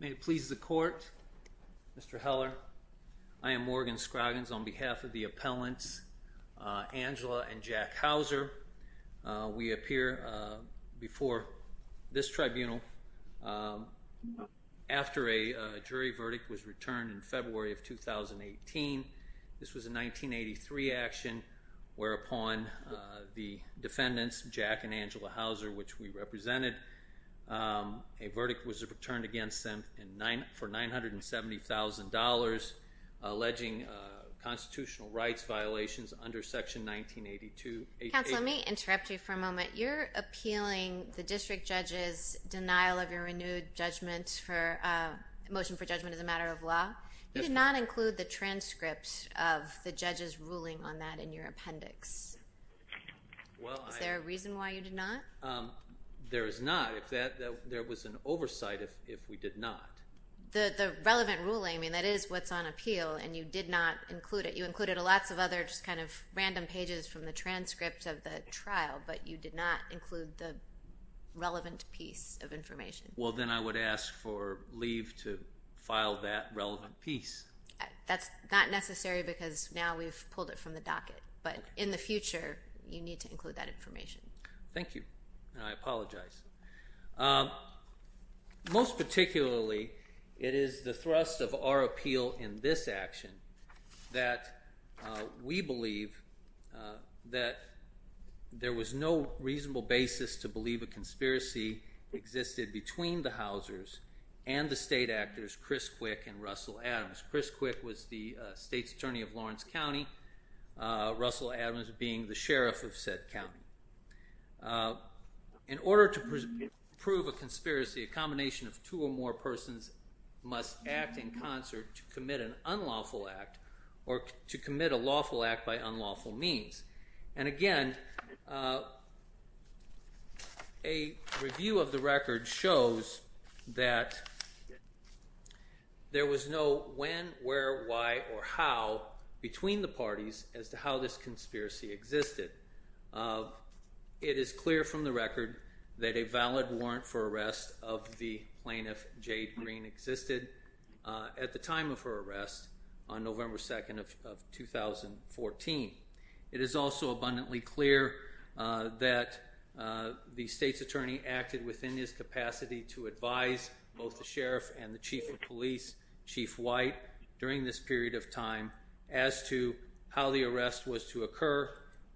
May it please the court. Mr. Heller, I am Morgan Scroggins on behalf of the appellants Angela and Jack Howser. We appear before this tribunal after a jury verdict was returned in February of 2018. This was a 1983 action whereupon the verdict was returned against them for $970,000 alleging constitutional rights violations under section 1982. Counsel let me interrupt you for a moment. You're appealing the district judge's denial of your renewed judgment for a motion for judgment as a matter of law. You did not include the transcript of the judge's ruling on that in your appendix. Is there a reason why you did not? There is not. There was an oversight if we did not. The relevant ruling, I mean that is what's on appeal, and you did not include it. You included lots of other just kind of random pages from the transcript of the trial, but you did not include the relevant piece of information. Well then I would ask for leave to file that relevant piece. That's not necessary because now we've pulled it from the docket, but in the future you need to thank you and I apologize. Most particularly it is the thrust of our appeal in this action that we believe that there was no reasonable basis to believe a conspiracy existed between the Housers and the state actors Chris Quick and Russell Adams. Chris Quick was the state's attorney of Lawrence County, Russell Adams being the sheriff of said County. In order to prove a conspiracy a combination of two or more persons must act in concert to commit an unlawful act or to commit a lawful act by unlawful means. And again a review of the record shows that there was no when, where, why, or how between the parties as to how this conspiracy existed. It is clear from the record that a valid warrant for arrest of the plaintiff Jade Green existed at the time of her arrest on November 2nd of 2014. It is also abundantly clear that the state's capacity to advise both the sheriff and the chief of police, Chief White, during this period of time as to how the arrest was to occur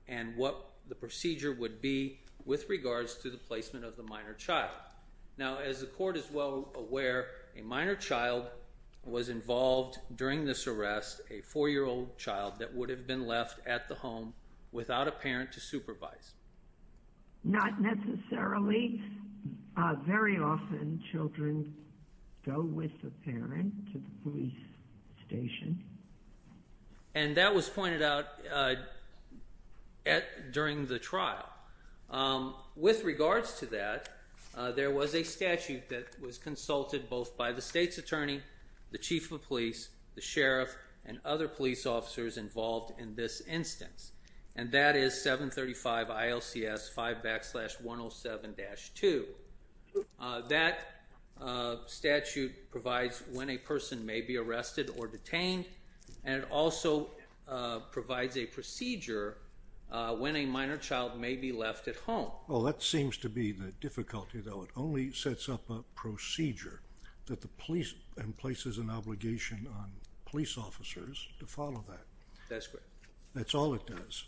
and what the procedure would be with regards to the placement of the minor child. Now as the court is well aware a minor child was involved during this arrest, a four-year-old child that would have been left at the home without a parent to supervise. Not necessarily. Very often children go with the parent to the police station. And that was pointed out during the trial. With regards to that there was a statute that was consulted both by the state's attorney, the chief of police, the sheriff, and other police officers involved in this instance. And that is 735 ILCS 5 backslash 107-2. That statute provides when a person may be arrested or detained and it also provides a procedure when a minor child may be left at home. Well that seems to be the difficulty though. It only sets up a procedure that the police and places an obligation on police officers to follow that. That's correct. That's all it does.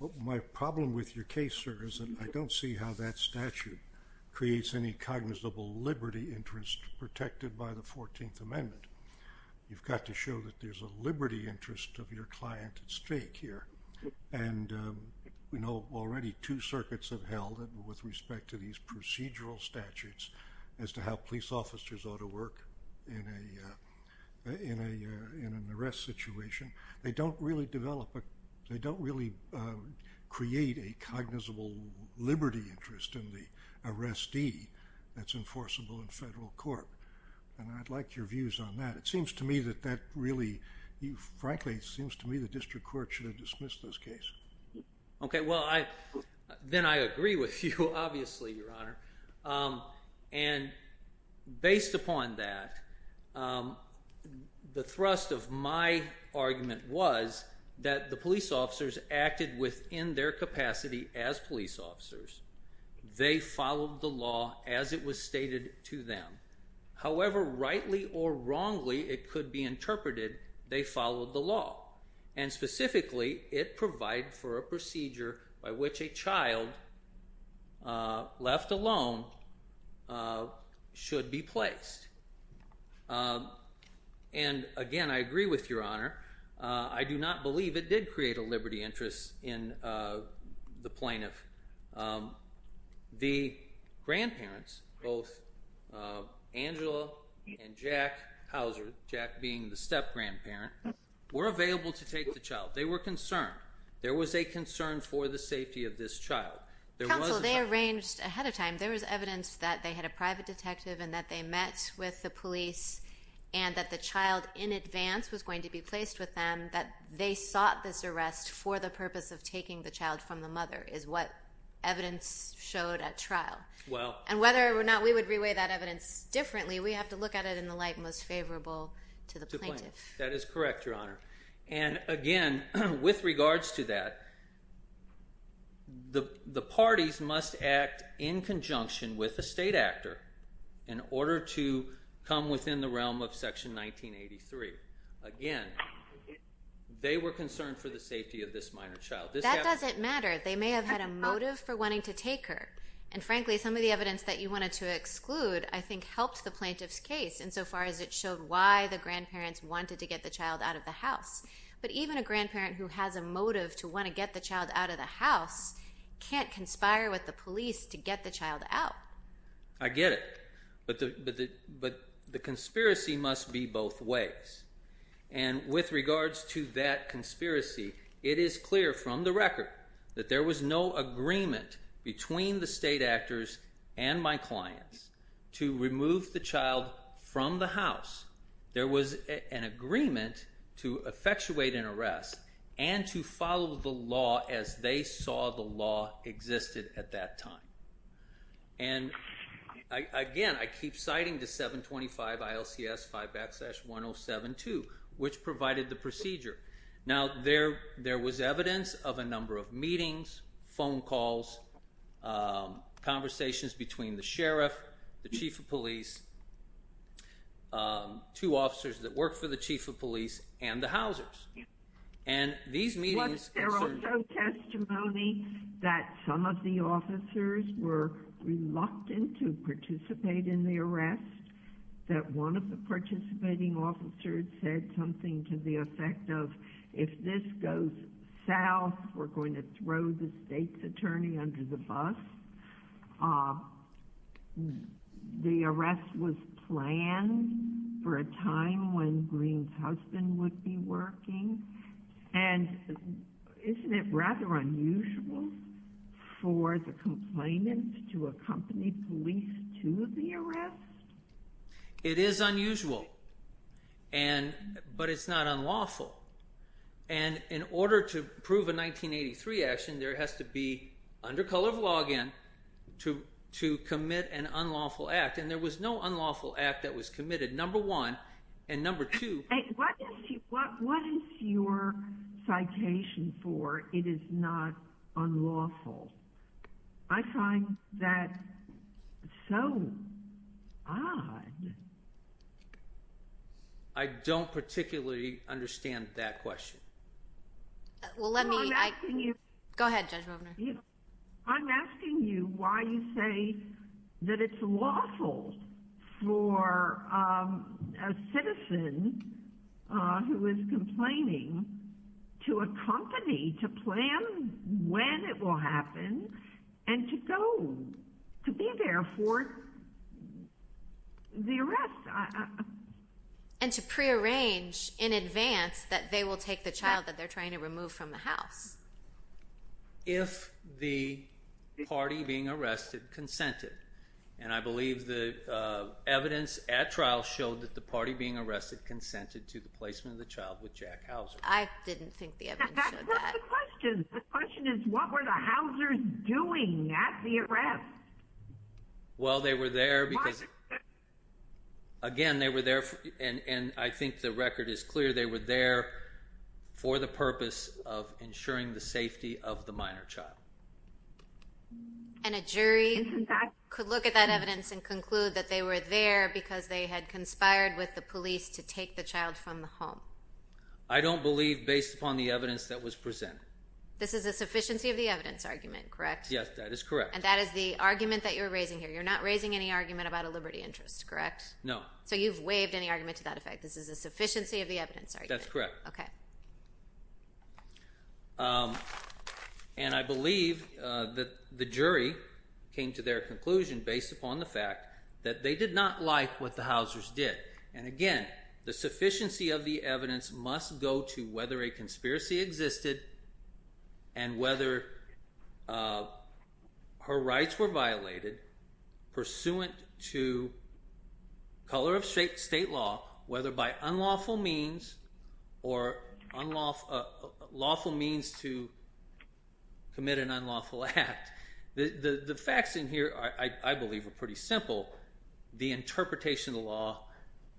Well my problem with your case sir is that I don't see how that statute creates any cognizable liberty interest protected by the 14th Amendment. You've got to show that there's a liberty interest of your client at stake here. And we know already two circuits have held it with respect to these procedural statutes as to how police officers ought to work in an arrest situation. They don't really develop, they don't really create a cognizable liberty interest in the arrestee that's enforceable in federal court. And I'd like your views on that. It seems to me that that really, frankly it seems to me the district court should have dismissed this case. Okay well I then I agree with you obviously your honor. And based upon that the thrust of my argument was that the police officers acted within their capacity as police officers. They followed the law as it was stated to them. However rightly or wrongly it could be interpreted they followed the law. And specifically it provided for a procedure by which a child left alone should be placed. And again I agree with your honor. I do not believe it did create a liberty interest in the plaintiff. The grandparents, both Angela and Jack Houser, Jack being the step-grandparent, were available to take the child. They were concerned. There was a concern for the safety of this child. Counsel they arranged ahead of time. There was evidence that they had a private detective and that they met with the police and that the child in advance was going to be placed with them. That they sought this arrest for the purpose of taking the child from the mother is what evidence showed at trial. And whether or not we would reweigh that evidence differently we have to look at it in the light most favorable to the plaintiff. That is correct your honor. And again with regards to that the parties must act in conjunction with a state actor in order to come within the realm of section 1983. Again they were concerned for the safety of this minor child. That doesn't matter. They may have had a motive for wanting to take her. And frankly some of the evidence that you wanted to exclude I think helps the plaintiff's case insofar as it showed why the grandparents wanted to get the child out of the house. But even a grandparent who has a motive to want to get the child out of the house can't conspire with the police to get the child out. I get it. But the conspiracy must be both ways. And with regards to that conspiracy it is clear from the record that there was no agreement between the state actors and my clients to remove the child from the house. There was an agreement to effectuate an arrest and to follow the law as they saw the law existed at that time. And again I keep citing the 725 ILCS 5-1072 which provided the procedure. Now there was evidence of a number of meetings, phone calls, conversations between the sheriff, the chief of police, two officers that work for the chief of police, and the housers. And these meetings... Was there also testimony that some of the officers were reluctant to participate in the arrest? That one of the South were going to throw the state's attorney under the bus. The arrest was planned for a time when Greene's husband would be working. And isn't it rather unusual for the complainants to accompany police to the arrest? It is unusual. In order to prove a 1983 action there has to be, under color of law again, to commit an unlawful act. And there was no unlawful act that was committed, number one. And number two... What is your citation for it is not unlawful? I find that so odd. I don't particularly understand that question. Well let me... Go ahead Judge Movener. I'm asking you why you say that it's lawful for a citizen who is complaining to accompany, to plan when it will happen, and to go, to be there for the arrest. And to pre-arrange in advance that they will take the child that they're trying to remove from the house. If the party being arrested consented. And I believe the evidence at trial showed that the party being arrested consented to the placement of the child with Jack Hauser. I didn't think the evidence showed that. That's not the question. The question is what were the Hausers doing at the arrest? Well they were there because, again they were there, and I think the record is clear, they were there for the purpose of ensuring the safety of the minor child. And a jury could look at that evidence and conclude that they were there because they had conspired with the police to take the child from the home. I don't believe based upon the evidence that was presented. This is a sufficiency of the evidence argument, correct? Yes, that is correct. And that is the argument that you're raising here. You're not raising any argument about a liberty interest, correct? No. So you've waived any argument to that effect. This is a sufficiency of the evidence. That's correct. Okay. And I believe that the jury came to their conclusion based upon the fact that they did not like what the Hausers did. And again, the sufficiency of the evidence must go to whether a her rights were violated pursuant to color of state state law, whether by unlawful means or lawful means to commit an unlawful act. The facts in here, I believe, are pretty simple. The interpretation of the law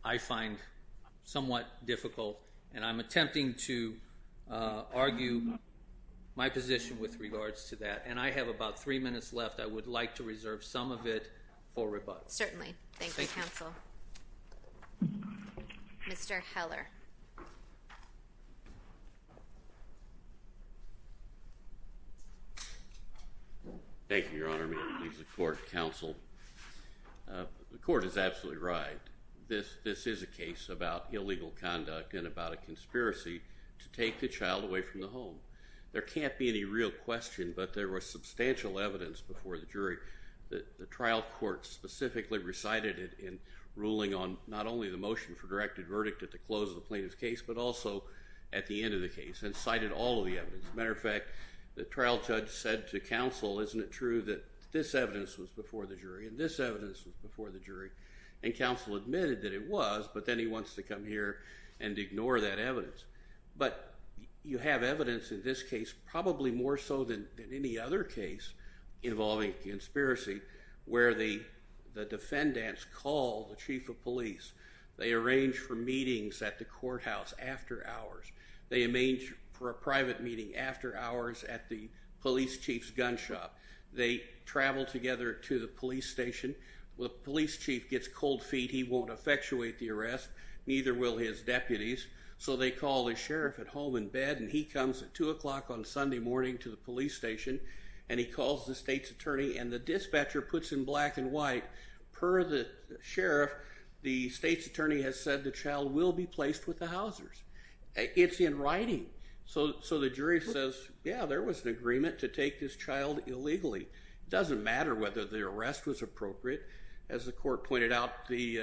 I find somewhat difficult, and I'm attempting to argue my position with regards to that. And I have about three minutes left. I would like to reserve some of it for rebuttal. Certainly. Thank you, Counsel. Mr Heller. Thank you, Your Honor. I mean, he's a court counsel. The court is absolutely right. This this is a case about illegal conduct and about a conspiracy to take the child away from the home. There can't be any real question, but there was substantial evidence before the jury. The trial court specifically recited it in ruling on not only the motion for directed verdict at the close of the plaintiff's case, but also at the end of the case and cited all of the evidence. Matter of fact, the trial judge said to counsel, Isn't it true that this evidence was before the jury and this evidence was before the jury? And counsel admitted that it was. But then he wants to come here and ignore that evidence. But you have evidence in this case, probably more so than any other case involving conspiracy, where the the defendants called the chief of police. They arranged for meetings at the courthouse after hours. They arranged for a private meeting after hours at the police chief's gun shop. They travel together to the police station. The police chief gets cold feet. He won't effectuate the arrest. Neither will his deputies. So they call the sheriff at home in bed, and he comes at two o'clock on Sunday morning to the police station, and he calls the state's attorney and the dispatcher puts in black and white. Per the sheriff, the state's attorney has said the child will be placed with the housers. It's in writing. So so the jury says, Yeah, there was an agreement to take this child illegally. Doesn't matter whether the arrest was appropriate. As the court pointed out, the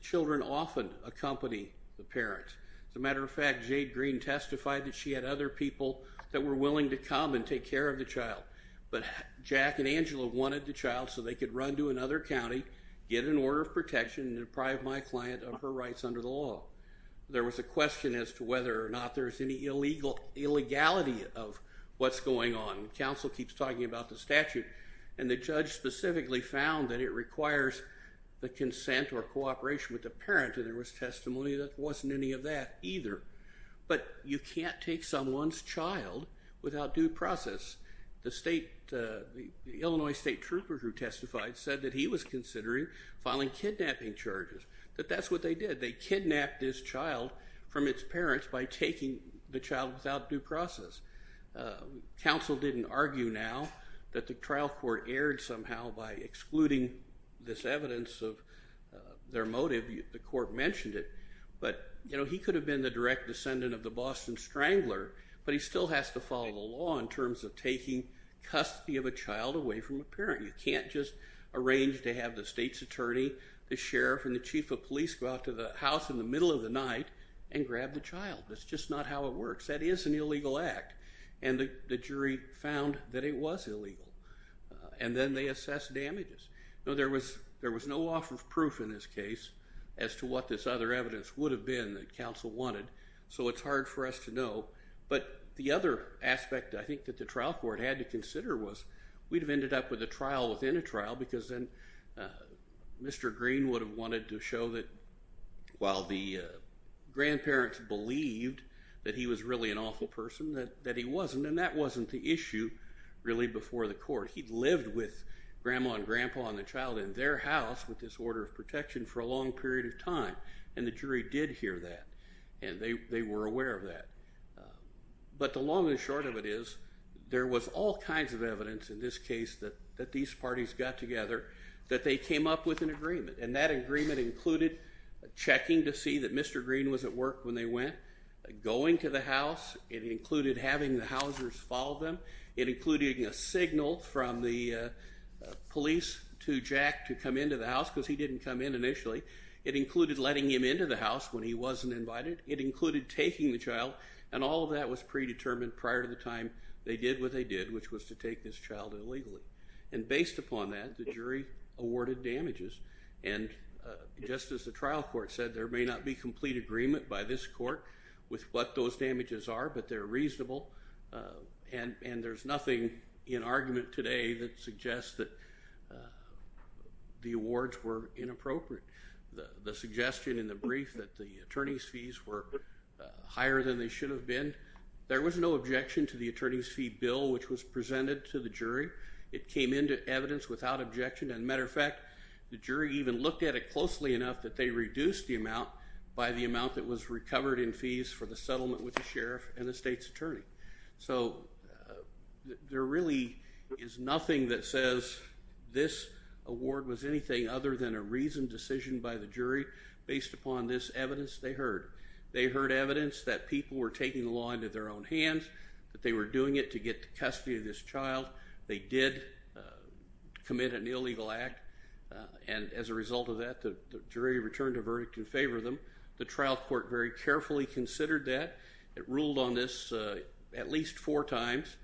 children often accompany the parents. As a matter of fact, Jade Green testified that she had other people that were willing to come and take care of the child. But Jack and Angela wanted the child so they could run to another county, get an order of protection, deprive my client of her rights under the law. There was a question as to whether or not there's any illegal illegality of what's going on. Counsel keeps talking about the statute, and the judge specifically found that it requires the consent or cooperation with the parent. There was testimony that wasn't any of that either. But you can't take someone's child without due process. The state, the Illinois state troopers who testified said that he was considering filing kidnapping charges. But that's what they did. They kidnapped this child without due process. Counsel didn't argue now that the trial court erred somehow by excluding this evidence of their motive. The court mentioned it. But he could have been the direct descendant of the Boston Strangler, but he still has to follow the law in terms of taking custody of a child away from a parent. You can't just arrange to have the state's attorney, the sheriff, and the chief of police go out to the house in the works. That is an illegal act. And the jury found that it was illegal. And then they assess damages. Now there was there was no offer of proof in this case as to what this other evidence would have been that counsel wanted. So it's hard for us to know. But the other aspect I think that the trial court had to consider was we'd have ended up with a trial within a trial because then Mr. Green would have to show that while the grandparents believed that he was really an awful person, that he wasn't. And that wasn't the issue really before the court. He lived with grandma and grandpa and the child in their house with this order of protection for a long period of time. And the jury did hear that. And they were aware of that. But the long and short of it is there was all kinds of evidence in this case that these parties got together that they came up with an agreement included checking to see that Mr. Green was at work when they went, going to the house. It included having the housers follow them. It included a signal from the police to Jack to come into the house because he didn't come in initially. It included letting him into the house when he wasn't invited. It included taking the child. And all of that was predetermined prior to the time they did what they did, which was to take this child illegally. And based upon that the jury awarded damages. And just as the trial court said, there may not be complete agreement by this court with what those damages are, but they're reasonable. And there's nothing in argument today that suggests that the awards were inappropriate. The suggestion in the brief that the attorney's fees were higher than they should have been, there was no objection to the attorney's fee bill which was presented to the jury. It came into evidence without objection. And as a matter of fact, the jury even looked at it closely enough that they reduced the amount by the amount that was recovered in fees for the settlement with the sheriff and the state's attorney. So there really is nothing that says this award was anything other than a reasoned decision by the jury based upon this evidence they heard. They heard evidence that people were taking the law into their own hands, that they were doing it to get the custody of this illegal act. And as a result of that, the jury returned a verdict in favor of them. The trial court very carefully considered that. It ruled on this at least four times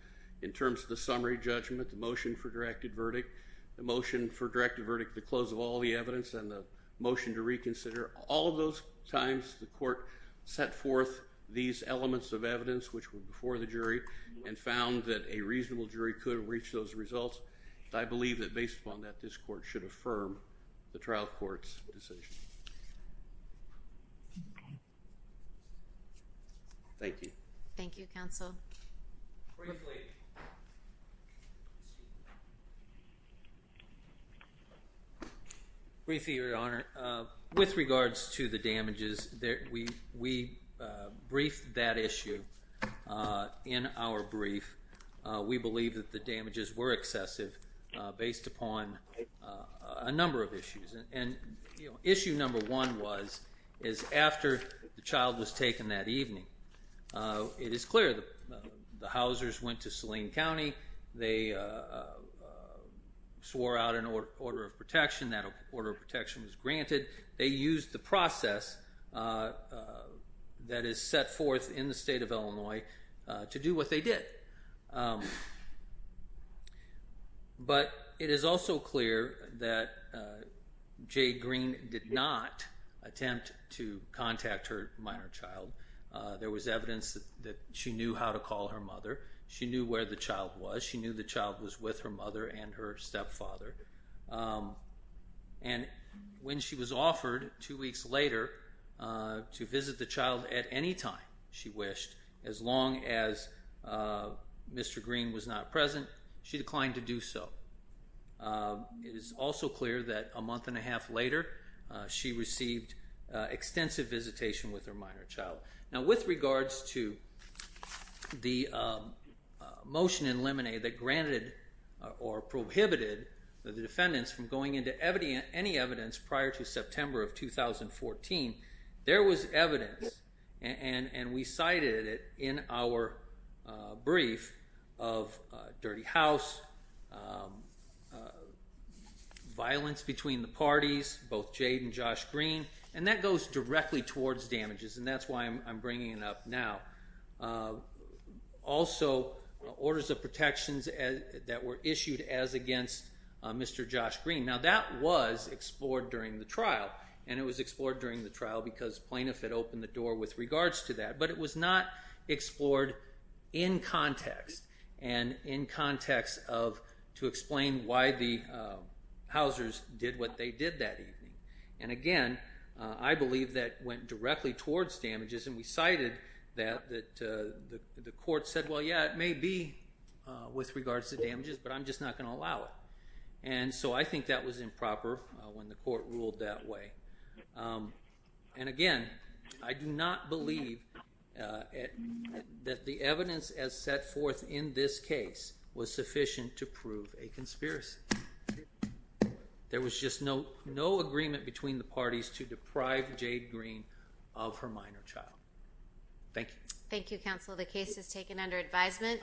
in terms of the summary judgment, the motion for directed verdict, the motion for directed verdict, the close of all the evidence, and the motion to reconsider. All of those times the court set forth these elements of evidence which were before the jury and found that a reasonable jury could reach those results. I believe that based upon that, this court should affirm the trial court's decision. Thank you. Thank you, counsel. Briefly, Your Honor, with regards to the damages, we briefed that issue in our brief. We believe that the damages were excessive based upon a number of issues. And issue number one was, is after the child was taken that evening, it is clear that the Housers went to Saline County. They swore out an order of protection. That order of protection was granted. They used the process that is set forth in the state of Illinois to do what they did. But it is also clear that Jade Green did not attempt to contact her minor child. There was evidence that she knew how to call her mother. She knew where the child was. She knew the child was with her mother and her stepfather. And when she was offered two weeks later to visit the child at any time she wished, as long as Mr. Green was not present, she declined to do so. It is also clear that a month and a half later, she received extensive visitation with her minor child. Now with regards to the motion in Lemonade that granted or prohibited the defendants from going into any evidence prior to September of 2014, there was evidence, and we cited it in our brief, of dirty house, violence between the parties, both Jade and Josh Green, and that goes directly towards damages. And that's why I'm bringing it up now. Also, orders of protections that were issued as against Mr. Josh Green. Now that was explored during the trial, and it was explored during the trial because plaintiff had opened the door with regards to that. But it was not explored in context, and in context of to explain why the Housers did what they did that evening. And again, I believe that went directly towards damages, and we cited that the court said, well yeah, it may be with regards to damages, but I'm just not going to allow it. And so I think that was improper when the court ruled that way. And again, I do not believe that the evidence as set forth in this case was sufficient to prove a conspiracy. There was just no agreement between the parties to deprive Jade Green of her minor child. Thank you. Thank you, counsel. The case is taken under advisement.